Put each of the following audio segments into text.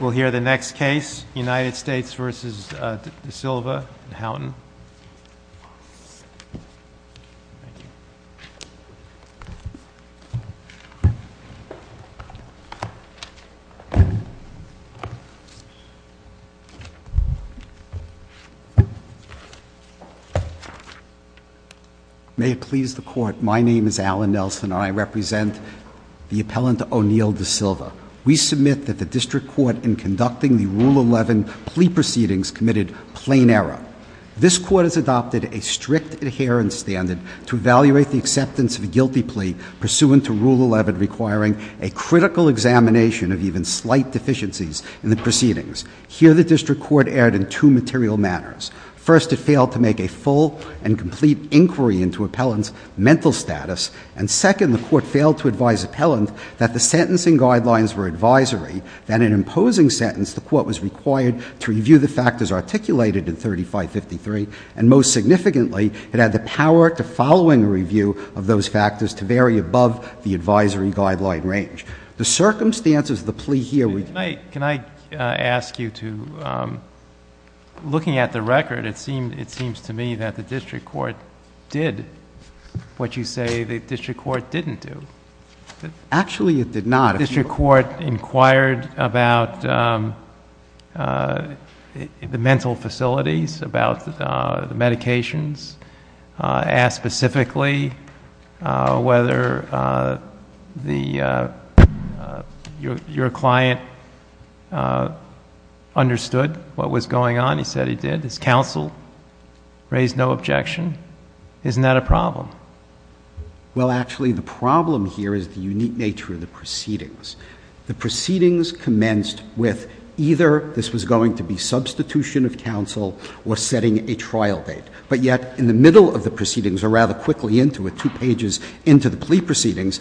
We'll hear the next case, United States v. De Silva and Houghton. May it please the Court, my name is Alan Nelson and I represent the appellant O'Neill De Silva. We submit that the district court in conducting the Rule 11 plea proceedings committed plain error. This court has adopted a strict adherence standard to evaluate the acceptance of a guilty plea pursuant to Rule 11, requiring a critical examination of even slight deficiencies in the proceedings. Here, the district court erred in two material manners. First, it failed to make a full and complete inquiry into appellant's mental status. And second, the court failed to advise appellant that the sentencing guidelines were advisory, that in imposing sentence, the court was required to review the factors articulated in 3553. And most significantly, it had the power to following a review of those factors to vary above the advisory guideline range. The circumstances of the plea here- Can I ask you to, looking at the record, it seems to me that the district court did what you say the district court didn't do. Actually, it did not. The district court inquired about the mental facilities, about the medications, asked specifically whether your client understood what was going on. He said he did. His counsel raised no objection. Isn't that a problem? Well, actually, the problem here is the unique nature of the proceedings. The proceedings commenced with either this was going to be substitution of counsel or setting a trial date. But yet, in the middle of the proceedings, or rather quickly into it, two pages into the plea proceedings,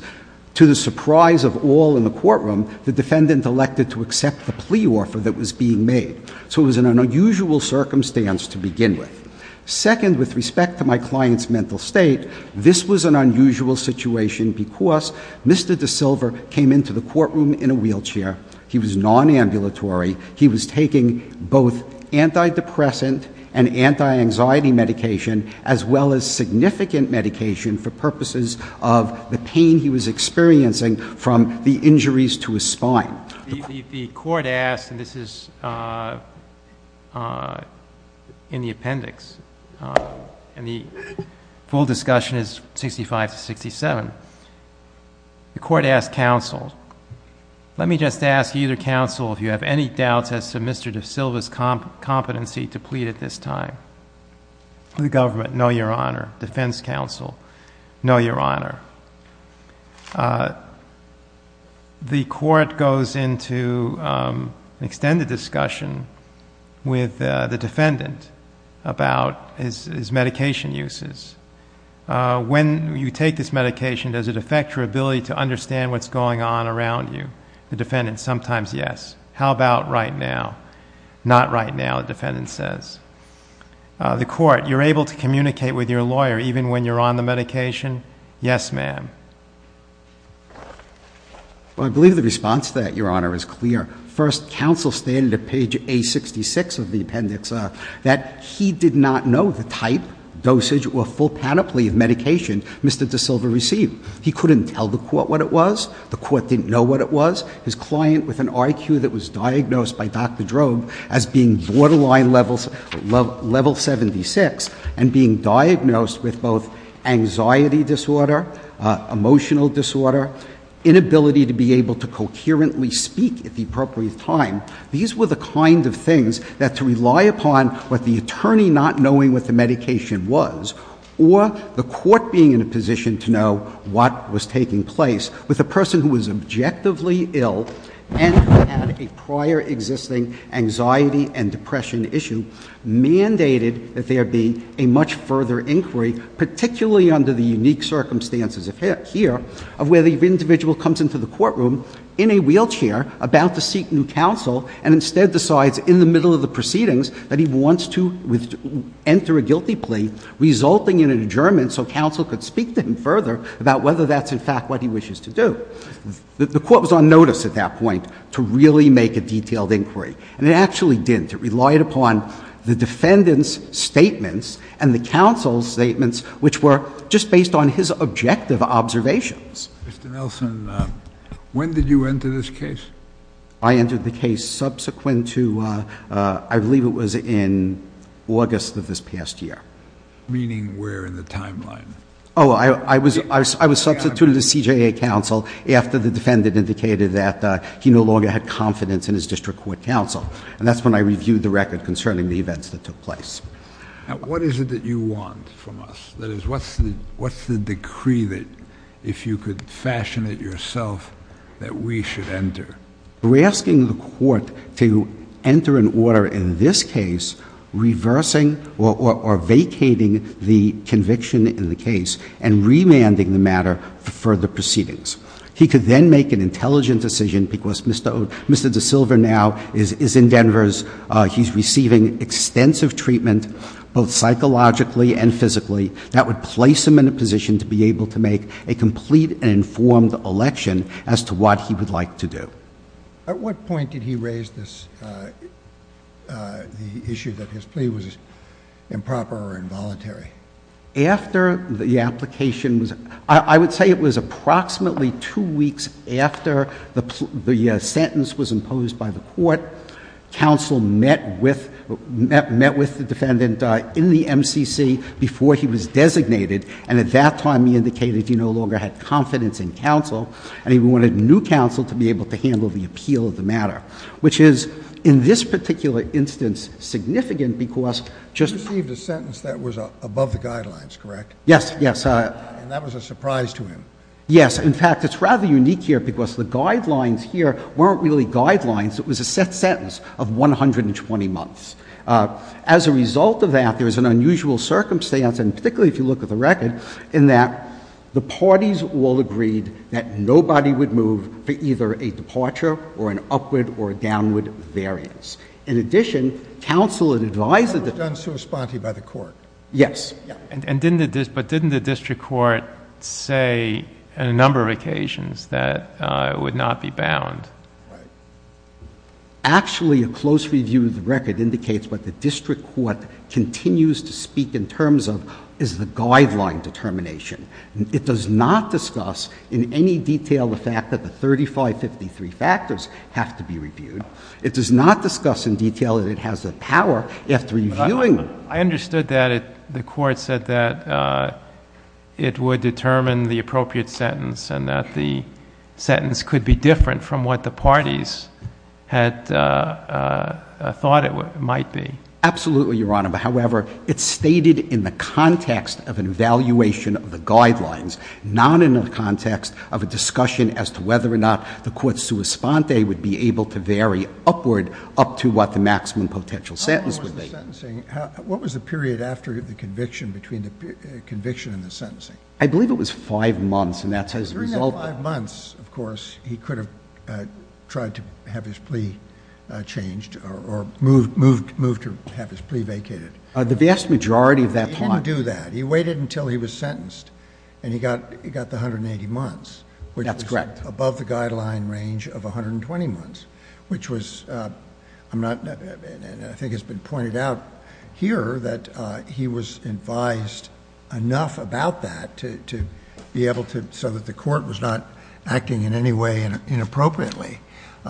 to the surprise of all in the courtroom, the defendant elected to accept the plea offer that was being made. So it was an unusual circumstance to begin with. Second, with respect to my client's mental state, this was an unusual situation because Mr. DeSilver came into the courtroom in a wheelchair. He was non-ambulatory. He was taking both antidepressant and anti-anxiety medication, as well as significant medication for purposes of the pain he was experiencing from the injuries to his spine. The court asked, and this is in the appendix. And the full discussion is 65 to 67. The court asked counsel, let me just ask either counsel, if you have any doubts as to Mr. DeSilver's competency to plead at this time. The government, no, your honor. Defense counsel, no, your honor. The court goes into an extended discussion with the defendant about his medication uses. When you take this medication, does it affect your ability to understand what's going on around you? The defendant, sometimes yes. How about right now? Not right now, the defendant says. The court, you're able to communicate with your lawyer even when you're on the medication? Yes, ma'am. Well, I believe the response to that, your honor, is clear. First, counsel stated at page A66 of the appendix that he did not know the type, dosage, or full panoply of medication Mr. DeSilver received. He couldn't tell the court what it was. The court didn't know what it was. His client with an IQ that was diagnosed by Dr. Drobe as being borderline level 76 and being diagnosed with both anxiety disorder, emotional disorder, inability to be able to concurrently speak at the appropriate time. These were the kind of things that to rely upon what the attorney not knowing what the medication was, or the court being in a position to know what was taking place with a person who was objectively ill, and who had a prior existing anxiety and depression issue, mandated that there be a much further inquiry, particularly under the unique circumstances here, of where the individual comes into the courtroom in a wheelchair about to seek new counsel, and instead decides in the middle of the proceedings that he wants to enter a guilty plea, resulting in an adjournment so counsel could speak to him further about whether that's in fact what he wishes to do. The court was on notice at that point to really make a detailed inquiry, and it actually didn't. It relied upon the defendant's statements and the counsel's statements, which were just based on his objective observations. Mr. Nelson, when did you enter this case? I entered the case subsequent to, I believe it was in August of this past year. Meaning where in the timeline? I was substituted to CJA counsel after the defendant indicated that he no longer had confidence in his district court counsel. And that's when I reviewed the record concerning the events that took place. What is it that you want from us? That is, what's the decree that, if you could fashion it yourself, that we should enter? We're asking the court to enter an order in this case reversing or vacating the conviction in the case, and remanding the matter for further proceedings. He could then make an intelligent decision, because Mr. DeSilva now is in Denver's, he's receiving extensive treatment, both psychologically and physically, that would place him in a position to be able to make a complete and informed election as to what he would like to do. At what point did he raise this, the issue that his plea was improper or involuntary? After the application was, I would say it was approximately two weeks after the sentence was imposed by the court. Counsel met with the defendant in the MCC before he was designated. And at that time, he indicated he no longer had confidence in counsel, and he wanted new counsel to be able to handle the appeal of the matter. Which is, in this particular instance, significant because just- You received a sentence that was above the guidelines, correct? Yes, yes. And that was a surprise to him? Yes, in fact, it's rather unique here because the guidelines here weren't really guidelines. It was a set sentence of 120 months. As a result of that, there was an unusual circumstance, and particularly if you look at the record, in that the parties all agreed that nobody would move for either a departure or an upward or a downward variance. In addition, counsel had advised- That was done sui sponte by the court. Yes. And didn't the district court say on a number of occasions that it would not be bound? Actually, a close review of the record indicates what the district court continues to speak in terms of is the guideline determination. It does not discuss in any detail the fact that the 3553 factors have to be reviewed. It does not discuss in detail that it has the power after reviewing them. I understood that the court said that it would determine the appropriate sentence and that the sentence could be different from what the parties had thought it might be. Absolutely, Your Honor, but however, it's stated in the context of an evaluation of the guidelines, not in the context of a discussion as to whether or not the court's sui sponte would be able to vary upward up to what the maximum potential sentence would be. What was the period after the conviction between the conviction and the sentencing? I believe it was five months, and that's as a result of- During that five months, of course, he could have tried to have his plea changed or moved to have his plea vacated. The vast majority of that time- He didn't do that. He waited until he was sentenced, and he got the 180 months. That's correct. Above the guideline range of 120 months, which was, I think it's been pointed out here that he was advised enough about that to be able to, so that the court was not acting in any way inappropriately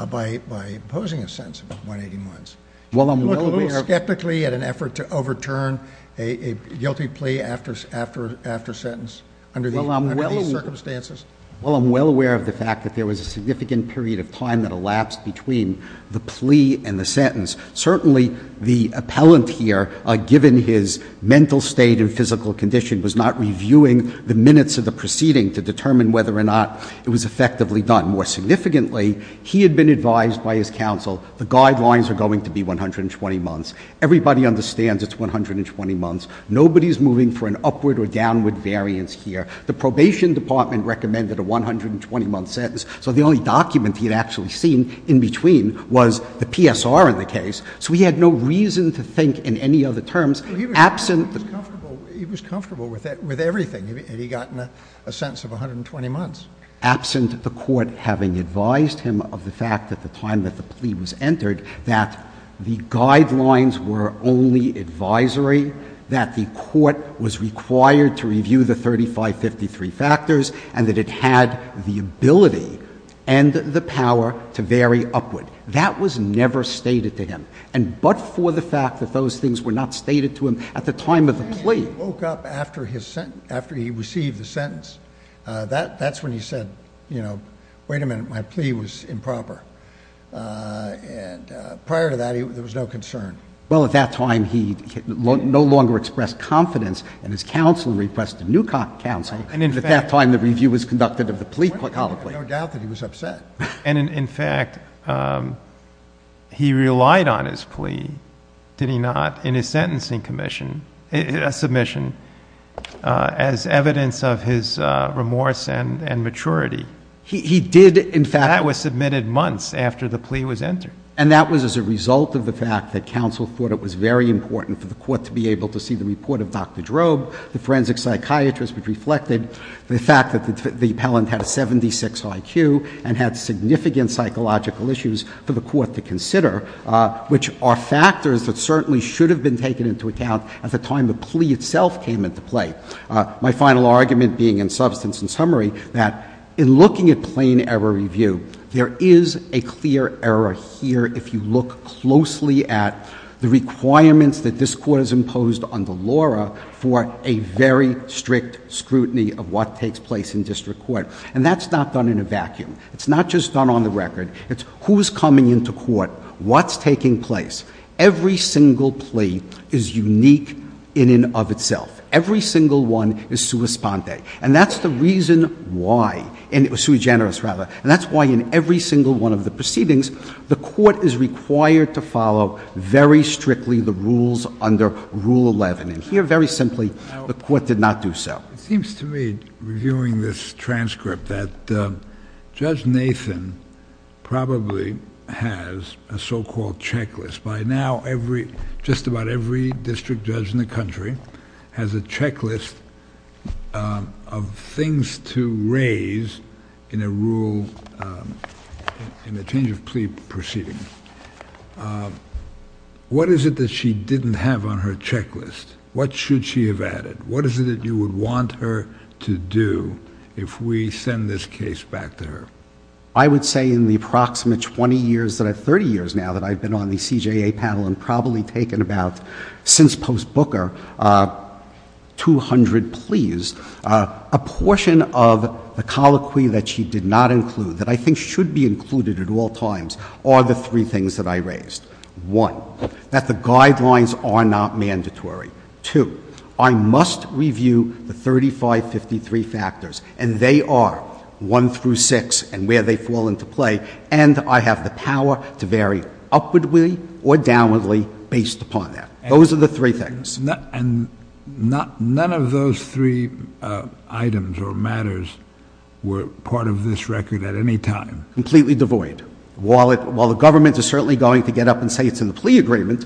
by imposing a sentence of 180 months. You look a little skeptically at an effort to overturn a guilty plea after sentence under these circumstances? Well, I'm well aware of the fact that there was a significant period of time that elapsed between the plea and the sentence. Certainly, the appellant here, given his mental state and physical condition, was not reviewing the minutes of the proceeding to determine whether or not it was effectively done. More significantly, he had been advised by his counsel, the guidelines are going to be 120 months. Everybody understands it's 120 months. Nobody's moving for an upward or downward variance here. The probation department recommended a 120 month sentence, so the only document he had actually seen in between was the PSR in the case. So he had no reason to think in any other terms, absent- He was comfortable with everything, and he got a sentence of 120 months. Absent the court having advised him of the fact that the time that the plea was entered, that the guidelines were only advisory, that the court was required to review the 3553 factors, and that it had the ability and the power to vary upward. That was never stated to him. And but for the fact that those things were not stated to him at the time of the plea- He woke up after he received the sentence, that's when he said, wait a minute, my plea was improper, and prior to that, there was no concern. Well, at that time, he no longer expressed confidence in his counsel and requested new counsel, and at that time, the review was conducted of the plea. No doubt that he was upset. And in fact, he relied on his plea, did he not, in his sentencing submission, as evidence of his remorse and maturity. He did, in fact- That was submitted months after the plea was entered. And that was as a result of the fact that counsel thought it was very important for the court to be able to see the report of Dr. Drobe, the forensic psychiatrist, which reflected the fact that the appellant had a 76 IQ and had significant psychological issues for the court to consider, which are factors that certainly should have been taken into account at the time the plea itself came into play. My final argument being in substance and summary, that in looking at plain error review, there is a clear error here if you look closely at the requirements that this court has imposed under Laura for a very strict scrutiny of what takes place in district court. And that's not done in a vacuum. It's not just done on the record. It's who's coming into court, what's taking place. Every single plea is unique in and of itself. Every single one is sua sponte. And that's the reason why, and it was sui generis rather, and that's why in every single one of the proceedings, the court is required to follow very strictly the rules under Rule 11. And here, very simply, the court did not do so. It seems to me, reviewing this transcript, that Judge Nathan probably has a so-called checklist. By now, just about every district judge in the country has a checklist of things to raise in a change of plea proceeding. What is it that she didn't have on her checklist? What should she have added? What is it that you would want her to do if we send this case back to her? I would say in the approximate 20 years, 30 years now that I've been on the CJA panel and probably taken about, since post-Booker, 200 pleas. A portion of the colloquy that she did not include, that I think should be included at all times, are the three things that I raised. One, that the guidelines are not mandatory. Two, I must review the 3553 factors, and they are one through six and where they fall into play. And I have the power to vary upwardly or downwardly based upon that. Those are the three things. And none of those three items or matters were part of this record at any time? Completely devoid. While the government is certainly going to get up and say it's in the plea agreement,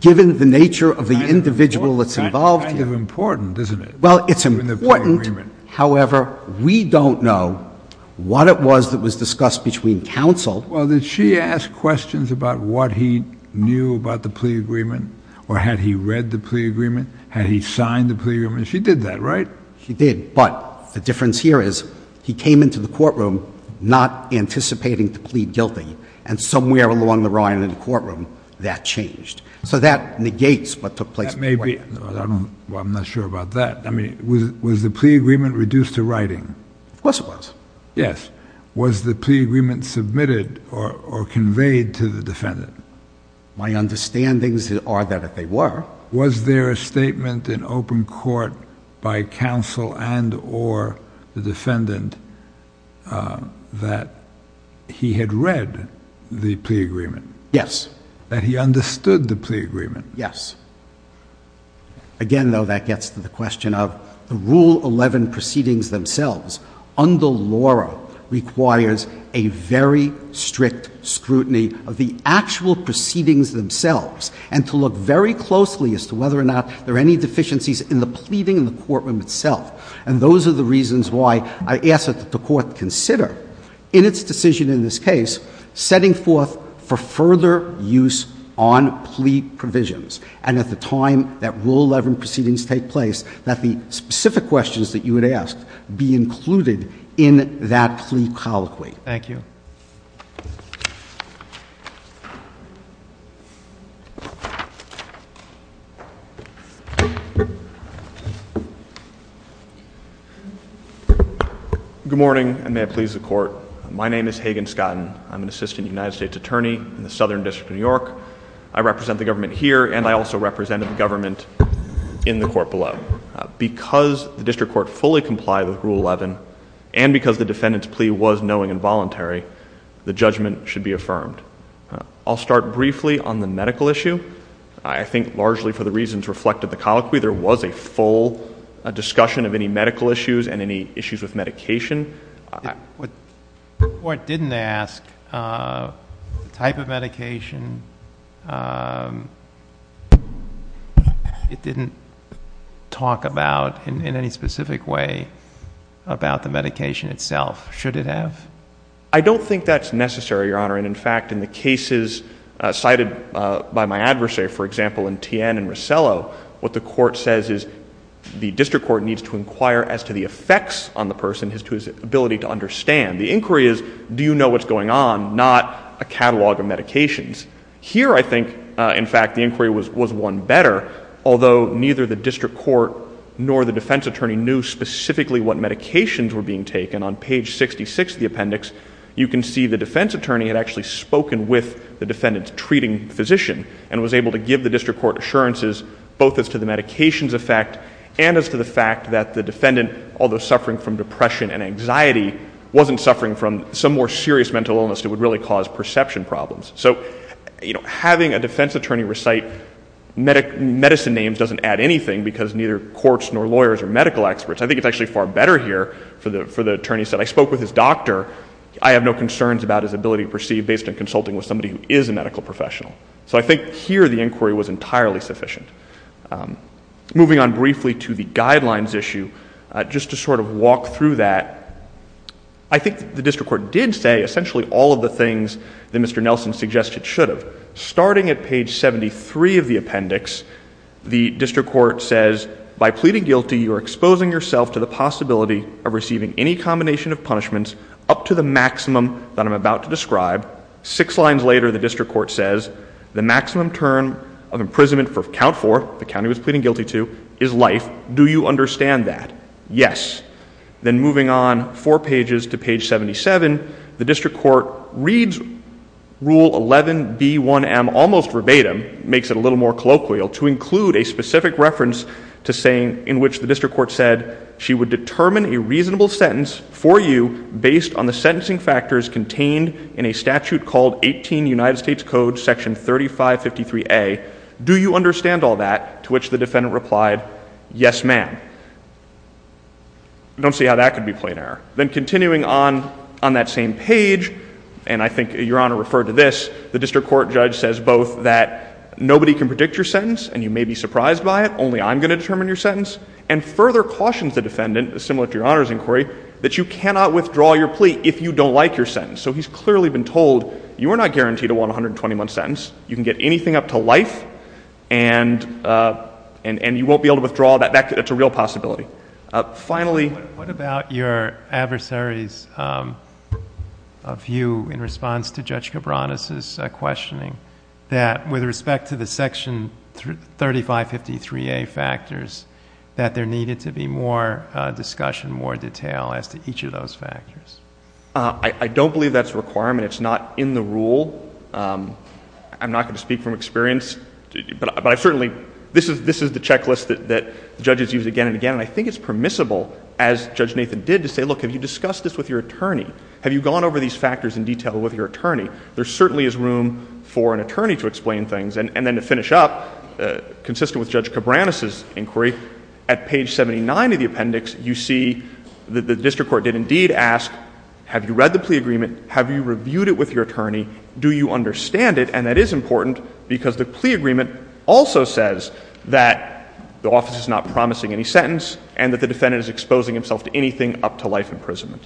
given the nature of the individual that's involved here. Kind of important, isn't it? Well, it's important. However, we don't know what it was that was discussed between counsel. Well, did she ask questions about what he knew about the plea agreement? Or had he read the plea agreement? Had he signed the plea agreement? She did that, right? She did, but the difference here is he came into the courtroom not anticipating to plead guilty. And somewhere along the line in the courtroom, that changed. So that negates what took place. That may be, I'm not sure about that. I mean, was the plea agreement reduced to writing? Of course it was. Yes. Was the plea agreement submitted or conveyed to the defendant? My understandings are that they were. Was there a statement in open court by counsel and or the defendant that he had read the plea agreement? Yes. That he understood the plea agreement? Yes. Again, though, that gets to the question of the Rule 11 proceedings themselves. Under Laura requires a very strict scrutiny of the actual proceedings themselves. And to look very closely as to whether or not there are any deficiencies in the pleading in the courtroom itself. And those are the reasons why I ask that the court consider, in its decision in this case, setting forth for further use on plea provisions. And at the time that Rule 11 proceedings take place, that the specific questions that you would ask be included in that plea colloquy. Thank you. Good morning, and may it please the court. My name is Hagen Scotton. I'm an Assistant United States Attorney in the Southern District of New York. I represent the government here, and I also represent the government in the court below. Because the district court fully complied with Rule 11, and because the defendant's plea was knowing and voluntary, the judgment should be affirmed. I'll start briefly on the medical issue. I think largely for the reasons reflected in the colloquy, there was a full discussion of any medical issues and any issues with medication. What the court didn't ask, the type of medication, it didn't talk about in any specific way about the medication itself. Should it have? I don't think that's necessary, Your Honor. And in fact, in the cases cited by my adversary, for example, in Tien and in the case of the defendant, the defense attorney had actually spoken with the defendant's treating physician. And was able to give the district court assurances, both as to the medications effect and as to the fact that the defendant, although suffering from depression, depression and anxiety, wasn't suffering from some more serious mental illness that would really cause perception problems. So having a defense attorney recite medicine names doesn't add anything, because neither courts nor lawyers or medical experts. I think it's actually far better here for the attorney to say, I spoke with this doctor. I have no concerns about his ability to perceive based on consulting with somebody who is a medical professional. So I think here the inquiry was entirely sufficient. Moving on briefly to the guidelines issue, just to sort of walk through that. I think the district court did say essentially all of the things that Mr. Nelson suggested should have. Starting at page 73 of the appendix, the district court says, by pleading guilty, you are exposing yourself to the possibility of receiving any combination of punishments up to the maximum that I'm about to describe. Six lines later, the district court says, the maximum term of imprisonment for count four, the county was pleading guilty to, is life. Do you understand that? Yes. Then moving on four pages to page 77, the district court reads rule 11B1M, almost verbatim, makes it a little more colloquial, to include a specific reference to saying, in which the district court said, she would determine a reasonable sentence for you based on the sentencing factors contained in a statute called 18 United States Code section 3553A. Do you understand all that? To which the defendant replied, yes ma'am. Don't see how that could be plain error. Then continuing on that same page, and I think your honor referred to this, the district court judge says both that nobody can predict your sentence and you may be surprised by it, only I'm going to determine your sentence. And further cautions the defendant, similar to your honor's inquiry, that you cannot withdraw your plea if you don't like your sentence. So he's clearly been told, you are not guaranteed to want a 121 sentence. You can get anything up to life and you won't be able to withdraw, that's a real possibility. Finally- What about your adversary's view in response to Judge Cabranes' questioning that with respect to the section 3553A factors, that there needed to be more discussion, more detail as to each of those factors? I don't believe that's a requirement, it's not in the rule. I'm not going to speak from experience, but I certainly, this is the checklist that judges use again and again. And I think it's permissible, as Judge Nathan did, to say, look, have you discussed this with your attorney? There certainly is room for an attorney to explain things. And then to finish up, consistent with Judge Cabranes' inquiry, at page 79 of the appendix, you see that the district court did indeed ask, have you read the plea agreement? Have you reviewed it with your attorney? Do you understand it? And that is important, because the plea agreement also says that the office is not promising any sentence, and that the defendant is exposing himself to anything up to life imprisonment.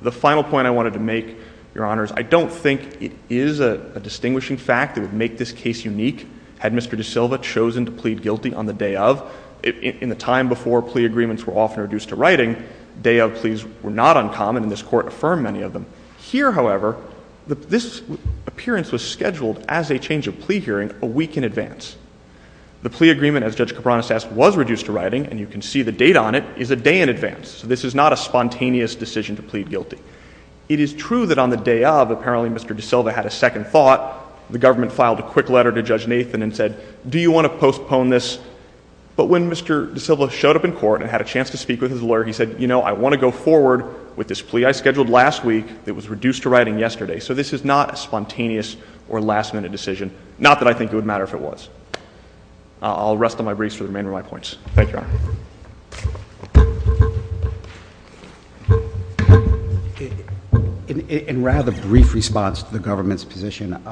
The final point I wanted to make, Your Honors, I don't think it is a distinguishing fact that would make this case unique. Had Mr. DeSilva chosen to plead guilty on the day of, in the time before plea agreements were often reduced to writing, day of pleas were not uncommon, and this court affirmed many of them. Here, however, this appearance was scheduled as a change of plea hearing a week in advance. The plea agreement, as Judge Cabranes asked, was reduced to writing, and you can see the date on it, is a day in advance. So this is not a spontaneous decision to plead guilty. It is true that on the day of, apparently Mr. DeSilva had a second thought. The government filed a quick letter to Judge Nathan and said, do you want to postpone this? But when Mr. DeSilva showed up in court and had a chance to speak with his lawyer, he said, you know, I want to go forward with this plea I scheduled last week that was reduced to writing yesterday. So this is not a spontaneous or last minute decision, not that I think it would matter if it was. I'll rest on my briefs for the remainder of my points. Thank you, Your Honor. In rather brief response to the government's position,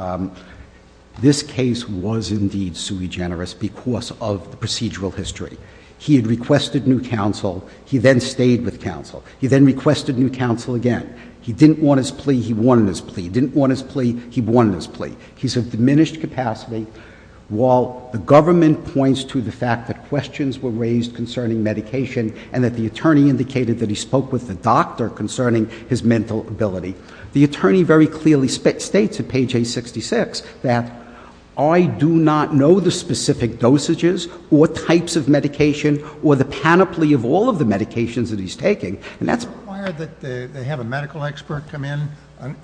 this case was indeed sui generis because of the procedural history. He had requested new counsel, he then stayed with counsel. He then requested new counsel again. He didn't want his plea, he wanted his plea. He didn't want his plea, he wanted his plea. He's of diminished capacity, while the government points to the fact that questions were raised concerning medication, and that the attorney indicated that he spoke with the doctor concerning his mental ability. The attorney very clearly states at page 866 that I do not know the specific dosages, or types of medication, or the panoply of all of the medications that he's taking. And that's- Is it required that they have a medical expert come in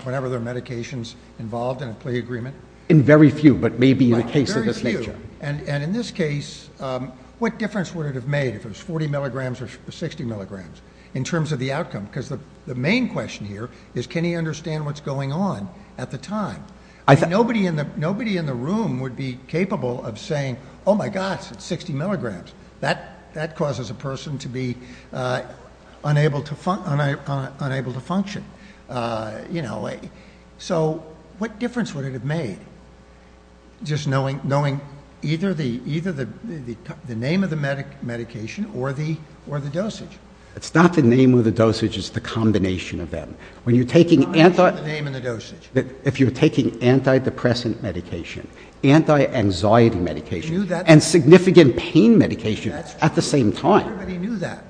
whenever there are medications involved in a plea agreement? In very few, but maybe in a case of this nature. And in this case, what difference would it have made if it was 40 milligrams or 60 milligrams? In terms of the outcome, because the main question here is, can he understand what's going on at the time? Nobody in the room would be capable of saying, my gosh, it's 60 milligrams. That causes a person to be unable to function. So, what difference would it have made just knowing either the name of the medication or the dosage? It's not the name of the dosage, it's the combination of them. When you're taking anti- It's not the name of the dosage. If you're taking antidepressant medication, anti-anxiety medication, and significant pain medication at the same time. Everybody knew that.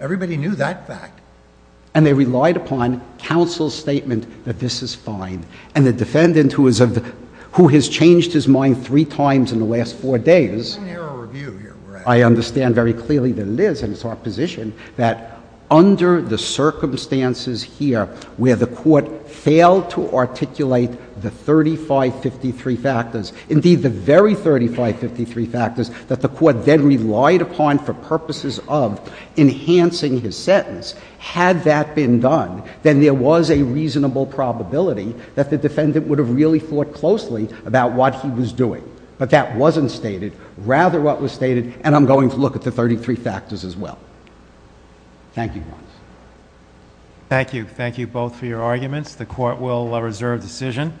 Everybody knew that fact. And they relied upon counsel's statement that this is fine. And the defendant, who has changed his mind three times in the last four days. There's an error of view here, correct? I understand very clearly that Liz, and it's our position, that under the circumstances here, where the court failed to articulate the 3553 factors. That the court then relied upon for purposes of enhancing his sentence. Had that been done, then there was a reasonable probability that the defendant would have really thought closely about what he was doing. But that wasn't stated, rather what was stated, and I'm going to look at the 33 factors as well. Thank you. Thank you. Thank you both for your arguments. The court will reserve decision.